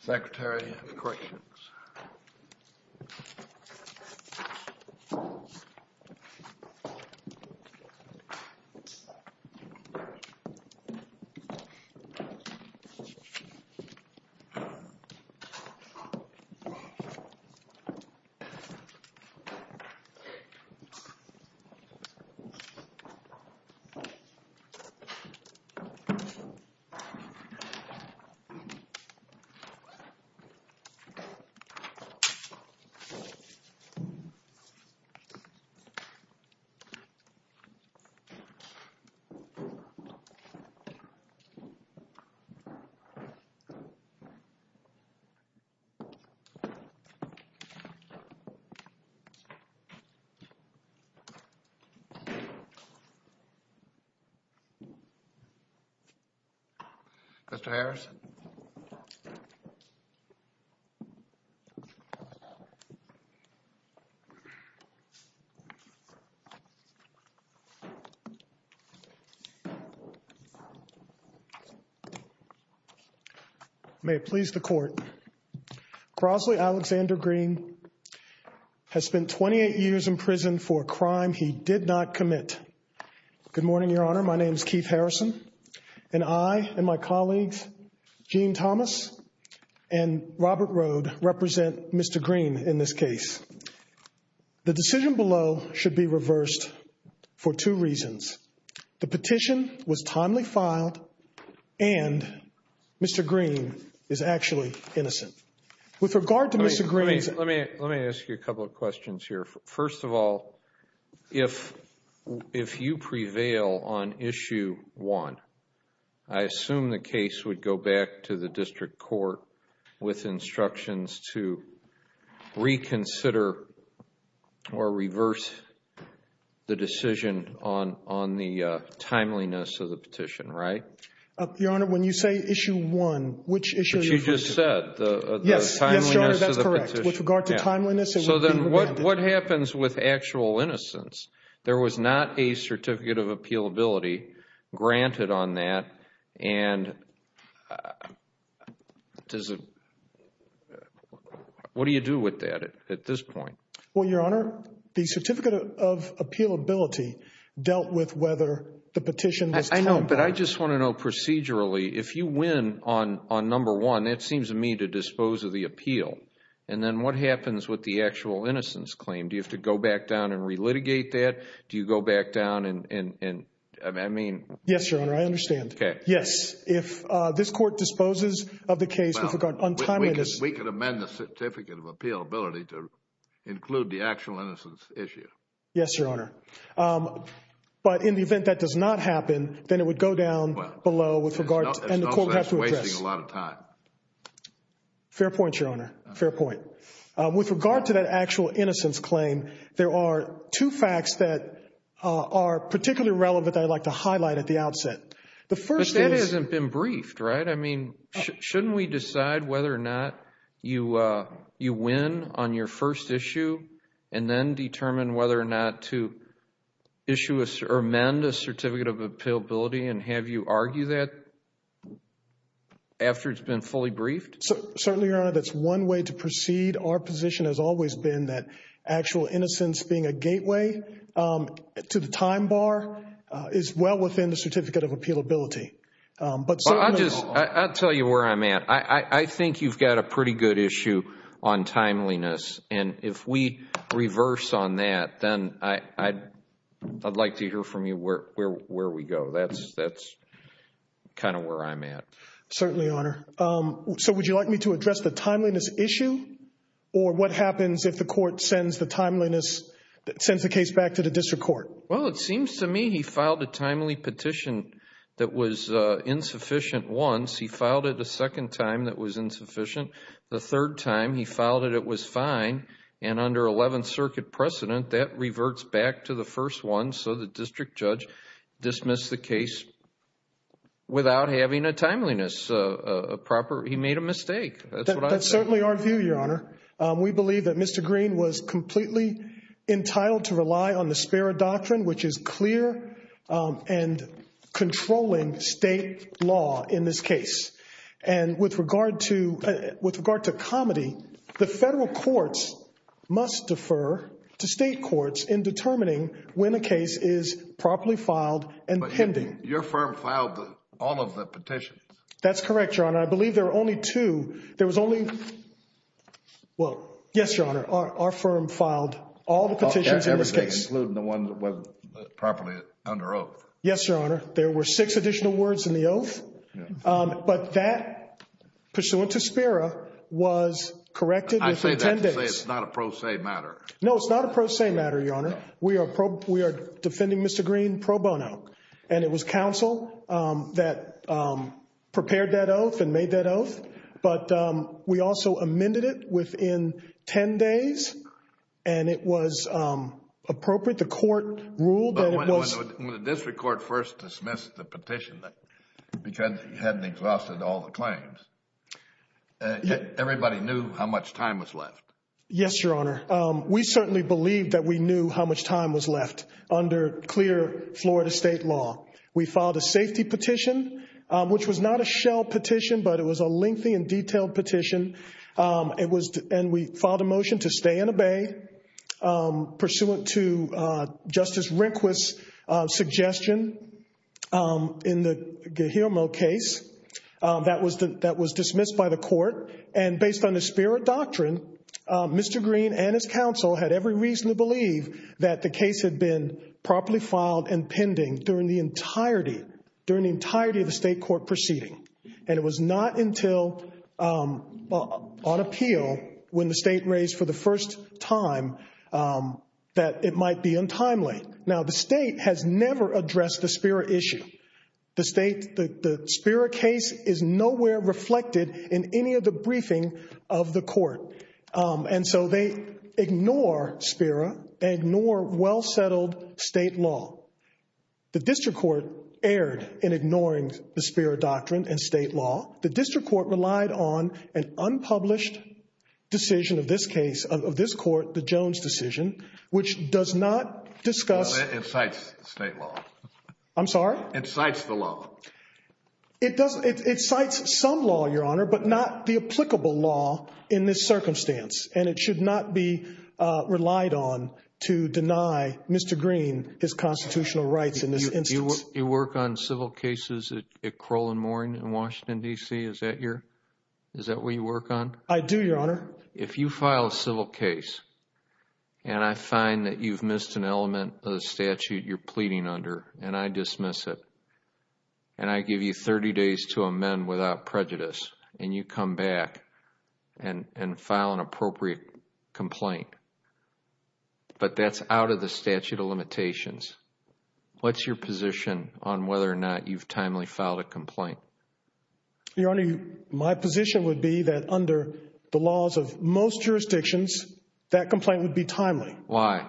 Secretary of Corrections Secretary of Corrections May it please the Court, Crosley Alexander Green has spent 28 years in prison for a crime he did not commit. Good morning, Your Honor. My name is Keith Harrison, and I and my colleagues, Gene Thomas and Robert Rode, represent Mr. Green in this case. The decision below should be reversed for two reasons. The petition was timely filed and Mr. Green is actually innocent. With regard to Mr. Green's... Let me ask you a couple of questions here. First of all, if you prevail on Issue 1, I assume the case would go back to the district court with instructions to reconsider or reverse the decision on the timeliness of the petition, right? Your Honor, when you say Issue 1, which issue... Yes, Your Honor, that's correct. With regard to timeliness... So then what happens with actual innocence? There was not a Certificate of Appealability granted on that, and what do you do with that at this point? Well, Your Honor, the Certificate of Appealability dealt with whether the petition was timely... And that seems to me to dispose of the appeal. And then what happens with the actual innocence claim? Do you have to go back down and relitigate that? Do you go back down and... I mean... Yes, Your Honor, I understand. Okay. Yes. If this court disposes of the case with regard to untimeliness... We could amend the Certificate of Appealability to include the actual innocence issue. Yes, Your Honor. But in the event that does not happen, then it would go down below with regard to... Fair point, Your Honor. Fair point. With regard to that actual innocence claim, there are two facts that are particularly relevant that I'd like to highlight at the outset. The first is... But that hasn't been briefed, right? I mean, shouldn't we decide whether or not you win on your first issue and then determine whether or not to amend the Certificate of Appealability and have you argue that after it's been fully briefed? Certainly, Your Honor, that's one way to proceed. Our position has always been that actual innocence being a gateway to the time bar is well within the Certificate of Appealability. I'll tell you where I'm at. I think you've got a pretty good issue on timeliness. And if we reverse on that, then I'd like to hear from you where we go. That's kind of where I'm at. Certainly, Your Honor. So would you like me to address the timeliness issue or what happens if the court sends the case back to the district court? Well, it seems to me he filed a timely petition that was insufficient once. He filed it a second time that was insufficient. The third time he filed it, it was fine. And under 11th Circuit precedent, that reverts back to the first one. So the district judge dismissed the case without having a timeliness. He made a mistake. That's certainly our view, Your Honor. We believe that Mr. Green was completely entitled to rely on the Sparrow Doctrine, which is clear and controlling state law in this case. And with regard to comedy, the federal courts must defer to state courts in determining when a case is properly filed and pending. But your firm filed all of the petitions. That's correct, Your Honor. I believe there were only two. There was only, well, yes, Your Honor. Our firm filed all the petitions in this case. Everything, including the one that wasn't properly under oath. Yes, Your Honor. There were six additional words in the oath. But that, pursuant to Sparrow, was corrected within 10 days. I say that to say it's not a pro se matter. No, it's not a pro se matter, Your Honor. We are defending Mr. Green pro bono. And it was counsel that prepared that oath and made that oath. But we also amended it within 10 days. And it was appropriate. The court ruled that it was... But when the district court first dismissed the petition, because it hadn't exhausted all the claims, everybody knew how much time was left. Yes, Your Honor. We certainly believed that we knew how much time was left under clear Florida state law. We filed a safety petition, which was not a shell petition, but it was a lengthy and detailed petition. And we filed a motion to stay and obey, pursuant to Justice Rehnquist's suggestion in the Guillermo case. That was dismissed by the court. And based on the Sparrow doctrine, Mr. Green and his counsel had every reason to believe that the case had been properly filed and pending during the entirety of the state court proceeding. And it was not until on appeal, when the state raised for the first time, that it might be untimely. Now, the state has never addressed the Sparrow issue. The Sparrow case is nowhere reflected in any of the briefing of the court. And so they ignore Sparrow. They ignore well-settled state law. The district court erred in ignoring the Sparrow doctrine and state law. The district court relied on an unpublished decision of this case, of this court, the Jones decision, which does not discuss... It cites state law. I'm sorry? It cites the law. It cites some law, Your Honor, but not the applicable law in this circumstance. And it should not be relied on to deny Mr. Green his constitutional rights in this instance. Do you work on civil cases at Crowell and Mooring in Washington, D.C.? Is that where you work on? I do, Your Honor. If you file a civil case and I find that you've missed an element of the statute you're pleading under and I dismiss it, and I give you 30 days to amend without prejudice, and you come back and file an appropriate complaint, but that's out of the statute of limitations, what's your position on whether or not you've timely filed a complaint? Your Honor, my position would be that under the laws of most jurisdictions, that complaint would be timely. Why?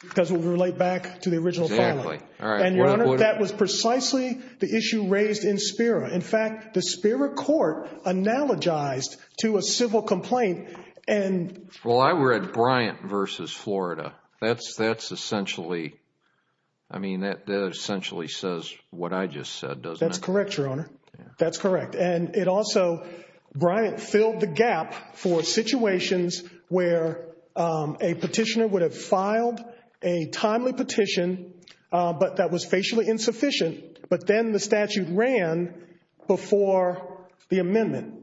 Because it would relate back to the original filing. Exactly. All right. And, Your Honor, that was precisely the issue raised in Sparrow. In fact, the Sparrow court analogized to a civil complaint and... Well, I read Bryant v. Florida. That's essentially, I mean, that essentially says what I just said, doesn't it? That's correct, Your Honor. That's correct. And it also, Bryant filled the gap for situations where a petitioner would have filed a timely petition, but that was facially insufficient. But then the statute ran before the amendment,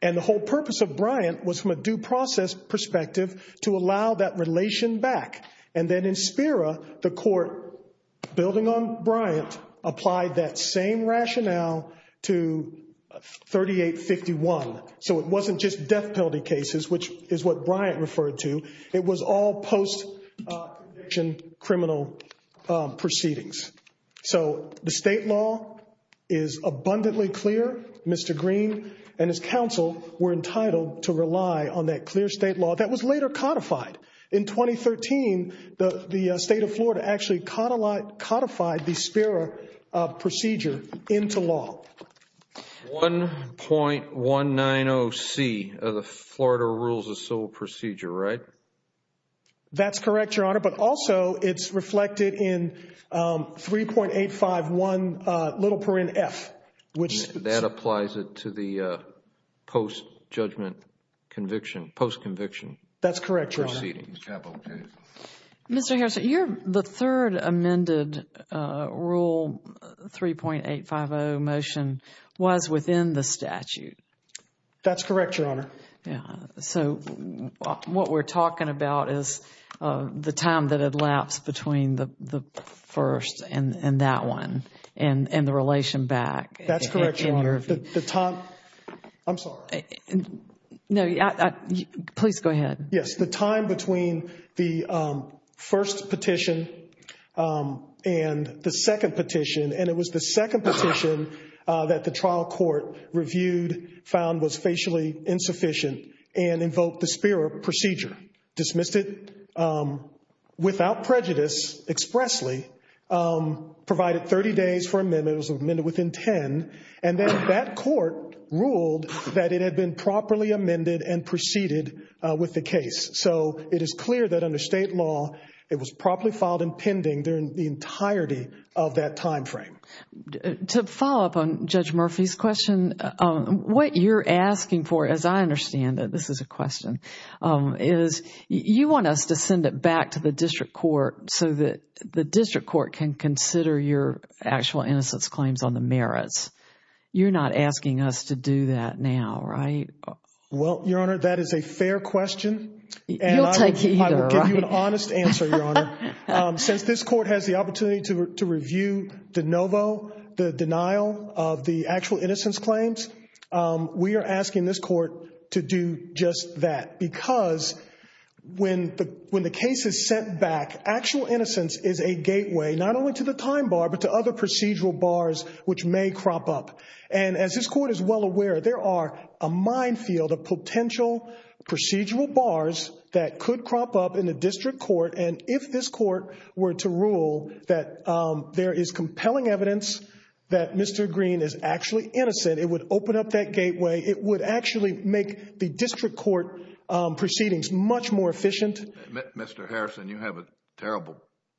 and the whole purpose of Bryant was from a due process perspective to allow that relation back. And then in Sparrow, the court, building on Bryant, applied that same rationale to 3851. So it wasn't just death penalty cases, which is what Bryant referred to. It was all post-conviction criminal proceedings. So the state law is abundantly clear. Mr. Green and his counsel were entitled to rely on that clear state law that was later codified. In 2013, the state of Florida actually codified the Sparrow procedure into law. 1.190C of the Florida Rules of Civil Procedure, right? That's correct, Your Honor. But also, it's reflected in 3.851 f. That applies it to the post-judgment conviction, post-conviction proceedings. That's correct, Your Honor. Mr. Harrison, the third amended Rule 3.850 motion was within the statute. That's correct, Your Honor. So what we're talking about is the time that elapsed between the first and that one, and the relation back. That's correct, Your Honor. The time—I'm sorry. No, please go ahead. Yes, the time between the first petition and the second petition. And it was the second petition that the trial court reviewed, found was facially insufficient, and invoked the Sparrow procedure. Dismissed it without prejudice, expressly. Provided 30 days for amendment. It was amended within 10. And then that court ruled that it had been properly amended and proceeded with the case. So it is clear that under state law, it was properly filed and pending during the entirety of that time frame. To follow up on Judge Murphy's question, what you're asking for, as I understand it—this is a question— you want us to send it back to the district court so that the district court can consider your actual innocence claims on the merits. You're not asking us to do that now, right? Well, Your Honor, that is a fair question. You'll take it either, right? I will give you an honest answer, Your Honor. Since this court has the opportunity to review de novo the denial of the actual innocence claims, we are asking this court to do just that. Because when the case is sent back, actual innocence is a gateway, not only to the time bar, but to other procedural bars which may crop up. And as this court is well aware, there are a minefield of potential procedural bars that could crop up in the district court. And if this court were to rule that there is compelling evidence that Mr. Green is actually innocent, it would open up that gateway. It would actually make the district court proceedings much more efficient. Mr. Harrison, you have a terrible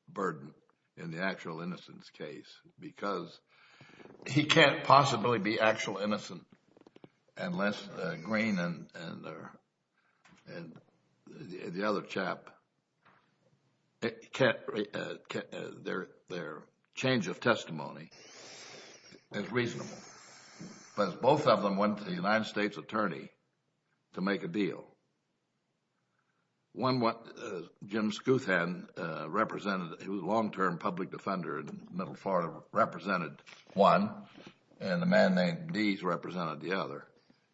burden in the actual innocence case because he can't possibly be actual innocent unless Green and the other chap, their change of testimony is reasonable. But both of them went to the United States attorney to make a deal. One, Jim Schuthan, represented, he was a long-term public defender in middle Florida, represented one, and a man named Deese represented the other.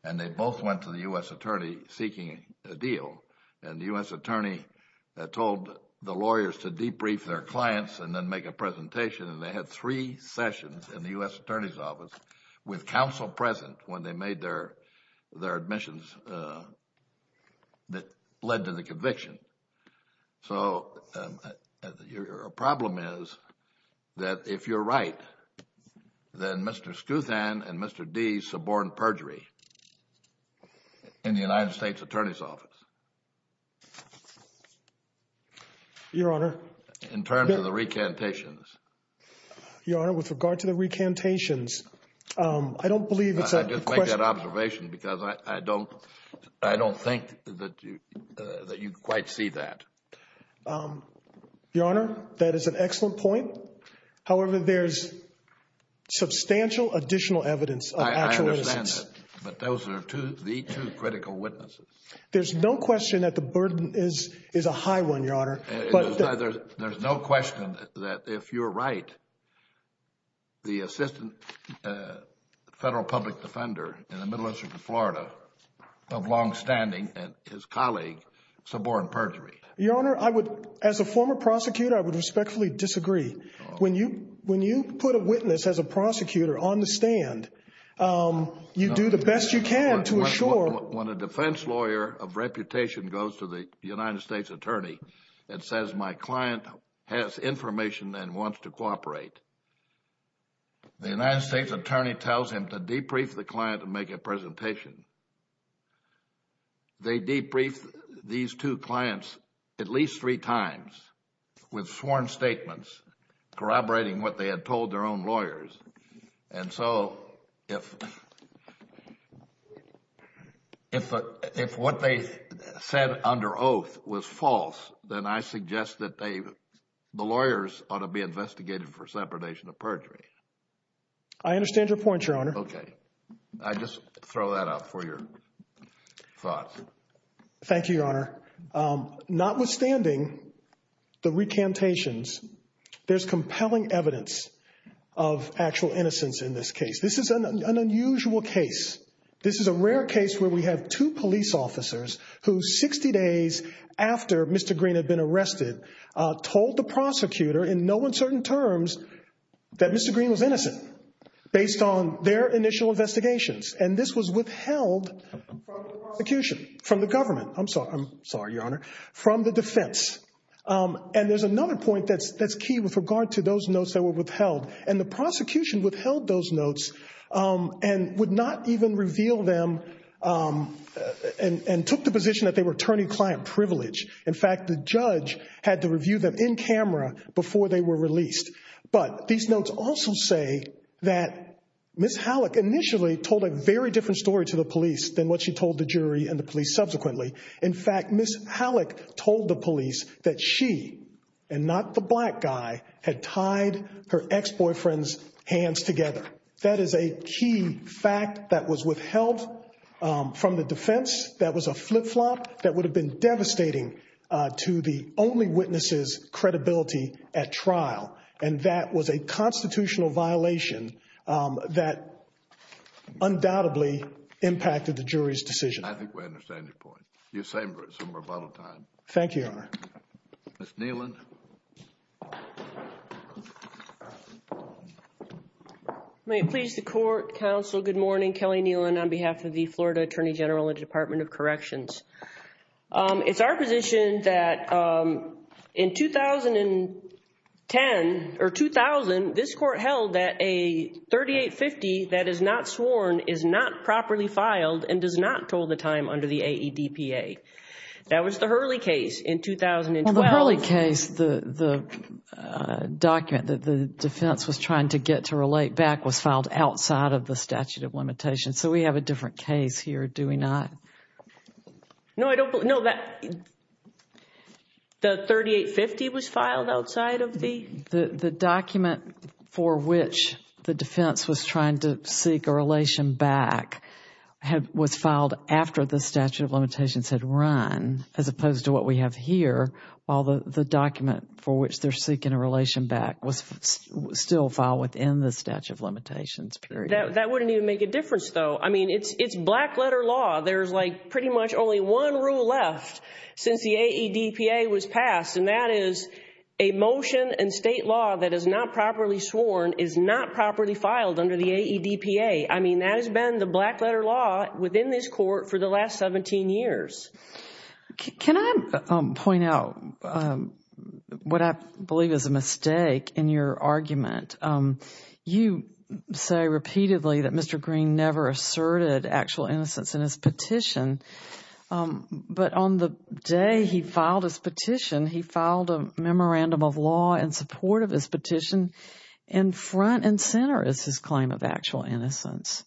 And they both went to the U.S. attorney seeking a deal. And the U.S. attorney told the lawyers to debrief their clients and then make a presentation. And they had three sessions in the U.S. attorney's office with counsel present when they made their admissions that led to the conviction. So your problem is that if you're right, then Mr. Schuthan and Mr. Deese suborned perjury in the United States attorney's office. Your Honor. In terms of the recantations. Your Honor, with regard to the recantations, I don't believe it's a question. I don't see that observation because I don't think that you quite see that. Your Honor, that is an excellent point. However, there's substantial additional evidence of actual innocence. I understand that. But those are the two critical witnesses. There's no question that the burden is a high one, Your Honor. There's no question that if you're right, the assistant federal public defender in the Middle Eastern Florida of longstanding and his colleague suborned perjury. Your Honor, as a former prosecutor, I would respectfully disagree. When you put a witness as a prosecutor on the stand, you do the best you can to ensure. When a defense lawyer of reputation goes to the United States attorney and says my client has information and wants to cooperate, the United States attorney tells him to debrief the client and make a presentation. They debrief these two clients at least three times with sworn statements corroborating what they had told their own lawyers. And so if what they said under oath was false, then I suggest that the lawyers ought to be investigated for separation of perjury. I understand your point, Your Honor. Okay. I just throw that out for your thoughts. Thank you, Your Honor. Notwithstanding the recantations, there's compelling evidence of actual innocence in this case. This is an unusual case. This is a rare case where we have two police officers who 60 days after Mr. Green had been arrested told the prosecutor in no uncertain terms that Mr. Green was innocent based on their initial investigations. And this was withheld from the prosecution, from the government. I'm sorry, Your Honor. From the defense. And there's another point that's key with regard to those notes that were withheld. And the prosecution withheld those notes and would not even reveal them and took the position that they were attorney-client privilege. In fact, the judge had to review them in camera before they were released. But these notes also say that Ms. Halleck initially told a very different story to the police than what she told the jury and the police subsequently. In fact, Ms. Halleck told the police that she and not the black guy had tied her ex-boyfriend's hands together. That is a key fact that was withheld from the defense. That was a flip-flop that would have been devastating to the only witness's credibility at trial. And that was a constitutional violation that undoubtedly impacted the jury's decision. I think we understand your point. You're saying it's over a bottle of time. Thank you, Your Honor. Ms. Nealon. May it please the court, counsel, good morning. Kelly Nealon on behalf of the Florida Attorney General and Department of Corrections. It's our position that in 2010 or 2000, this court held that a 3850 that is not sworn is not properly filed and does not toll the time under the AEDPA. That was the Hurley case in 2012. In the Hurley case, the document that the defense was trying to get to relate back was filed outside of the statute of limitations. So we have a different case here, do we not? No, I don't. No, the 3850 was filed outside of the... for which they're seeking a relation back was still filed within the statute of limitations. That wouldn't even make a difference, though. I mean, it's black-letter law. There's, like, pretty much only one rule left since the AEDPA was passed, and that is a motion in state law that is not properly sworn is not properly filed under the AEDPA. I mean, that has been the black-letter law within this court for the last 17 years. Can I point out what I believe is a mistake in your argument? You say repeatedly that Mr. Green never asserted actual innocence in his petition, but on the day he filed his petition, he filed a memorandum of law in support of his petition. And front and center is his claim of actual innocence.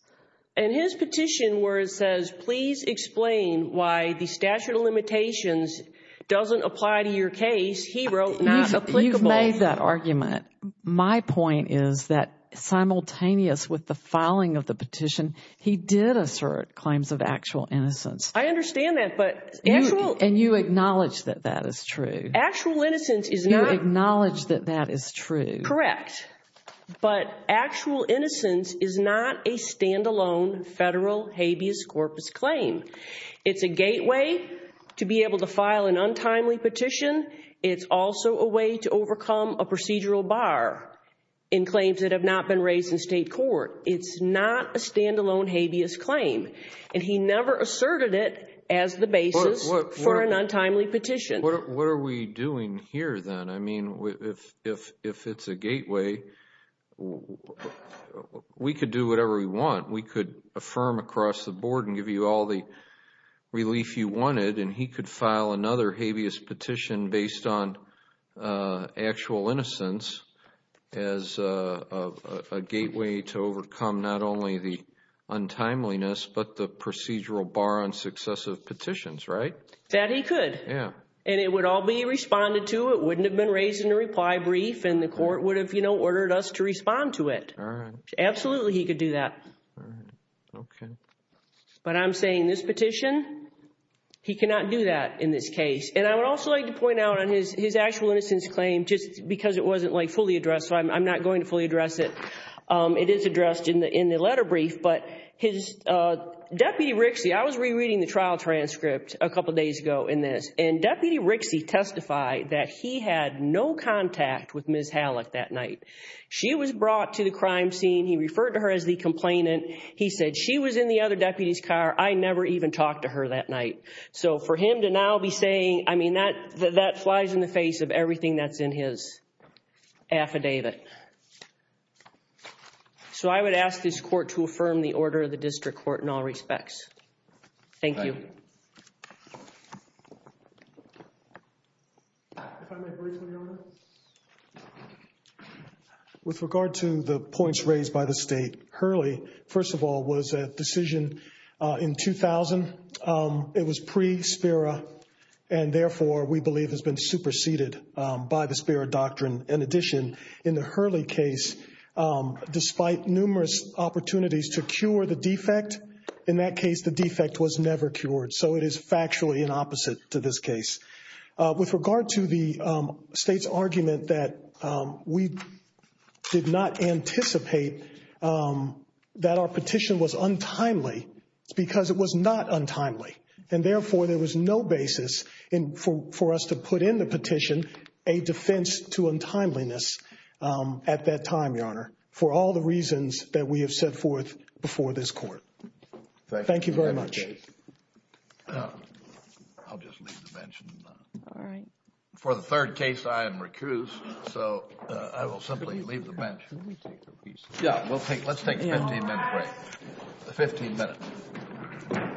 And his petition where it says, please explain why the statute of limitations doesn't apply to your case, he wrote, not applicable. You've made that argument. My point is that simultaneous with the filing of the petition, he did assert claims of actual innocence. I understand that, but actual... And you acknowledge that that is true. Actual innocence is not... You acknowledge that that is true. Correct. But actual innocence is not a stand-alone federal habeas corpus claim. It's a gateway to be able to file an untimely petition. It's also a way to overcome a procedural bar in claims that have not been raised in state court. It's not a stand-alone habeas claim. And he never asserted it as the basis for an untimely petition. What are we doing here, then? I mean, if it's a gateway, we could do whatever we want. We could affirm across the board and give you all the relief you wanted. And he could file another habeas petition based on actual innocence as a gateway to overcome not only the untimeliness, but the procedural bar on successive petitions, right? That he could. Yeah. And it would all be responded to. It wouldn't have been raised in a reply brief, and the court would have, you know, ordered us to respond to it. All right. Absolutely, he could do that. All right. Okay. But I'm saying this petition, he cannot do that in this case. And I would also like to point out on his actual innocence claim, just because it wasn't, like, fully addressed, so I'm not going to fully address it. It is addressed in the letter brief, but his... Deputy Rixey testified that he had no contact with Ms. Hallock that night. She was brought to the crime scene. He referred to her as the complainant. He said she was in the other deputy's car. I never even talked to her that night. So for him to now be saying... I mean, that flies in the face of everything that's in his affidavit. So I would ask this court to affirm the order of the district court in all respects. Thank you. Thank you. With regard to the points raised by the State, Hurley, first of all, was a decision in 2000. It was pre-Spera, and therefore we believe has been superseded by the Spera doctrine. In addition, in the Hurley case, despite numerous opportunities to cure the defect, in that case the defect was never cured. So it is factually an opposite to this case. With regard to the State's argument that we did not anticipate that our petition was untimely, it's because it was not untimely. And therefore, there was no basis for us to put in the petition a defense to untimeliness at that time, Your Honor, for all the reasons that we have set forth before this court. Thank you very much. I'll just leave the bench. All right. For the third case, I am recused, so I will simply leave the bench. Let's take a 15-minute break. A 15-minute break.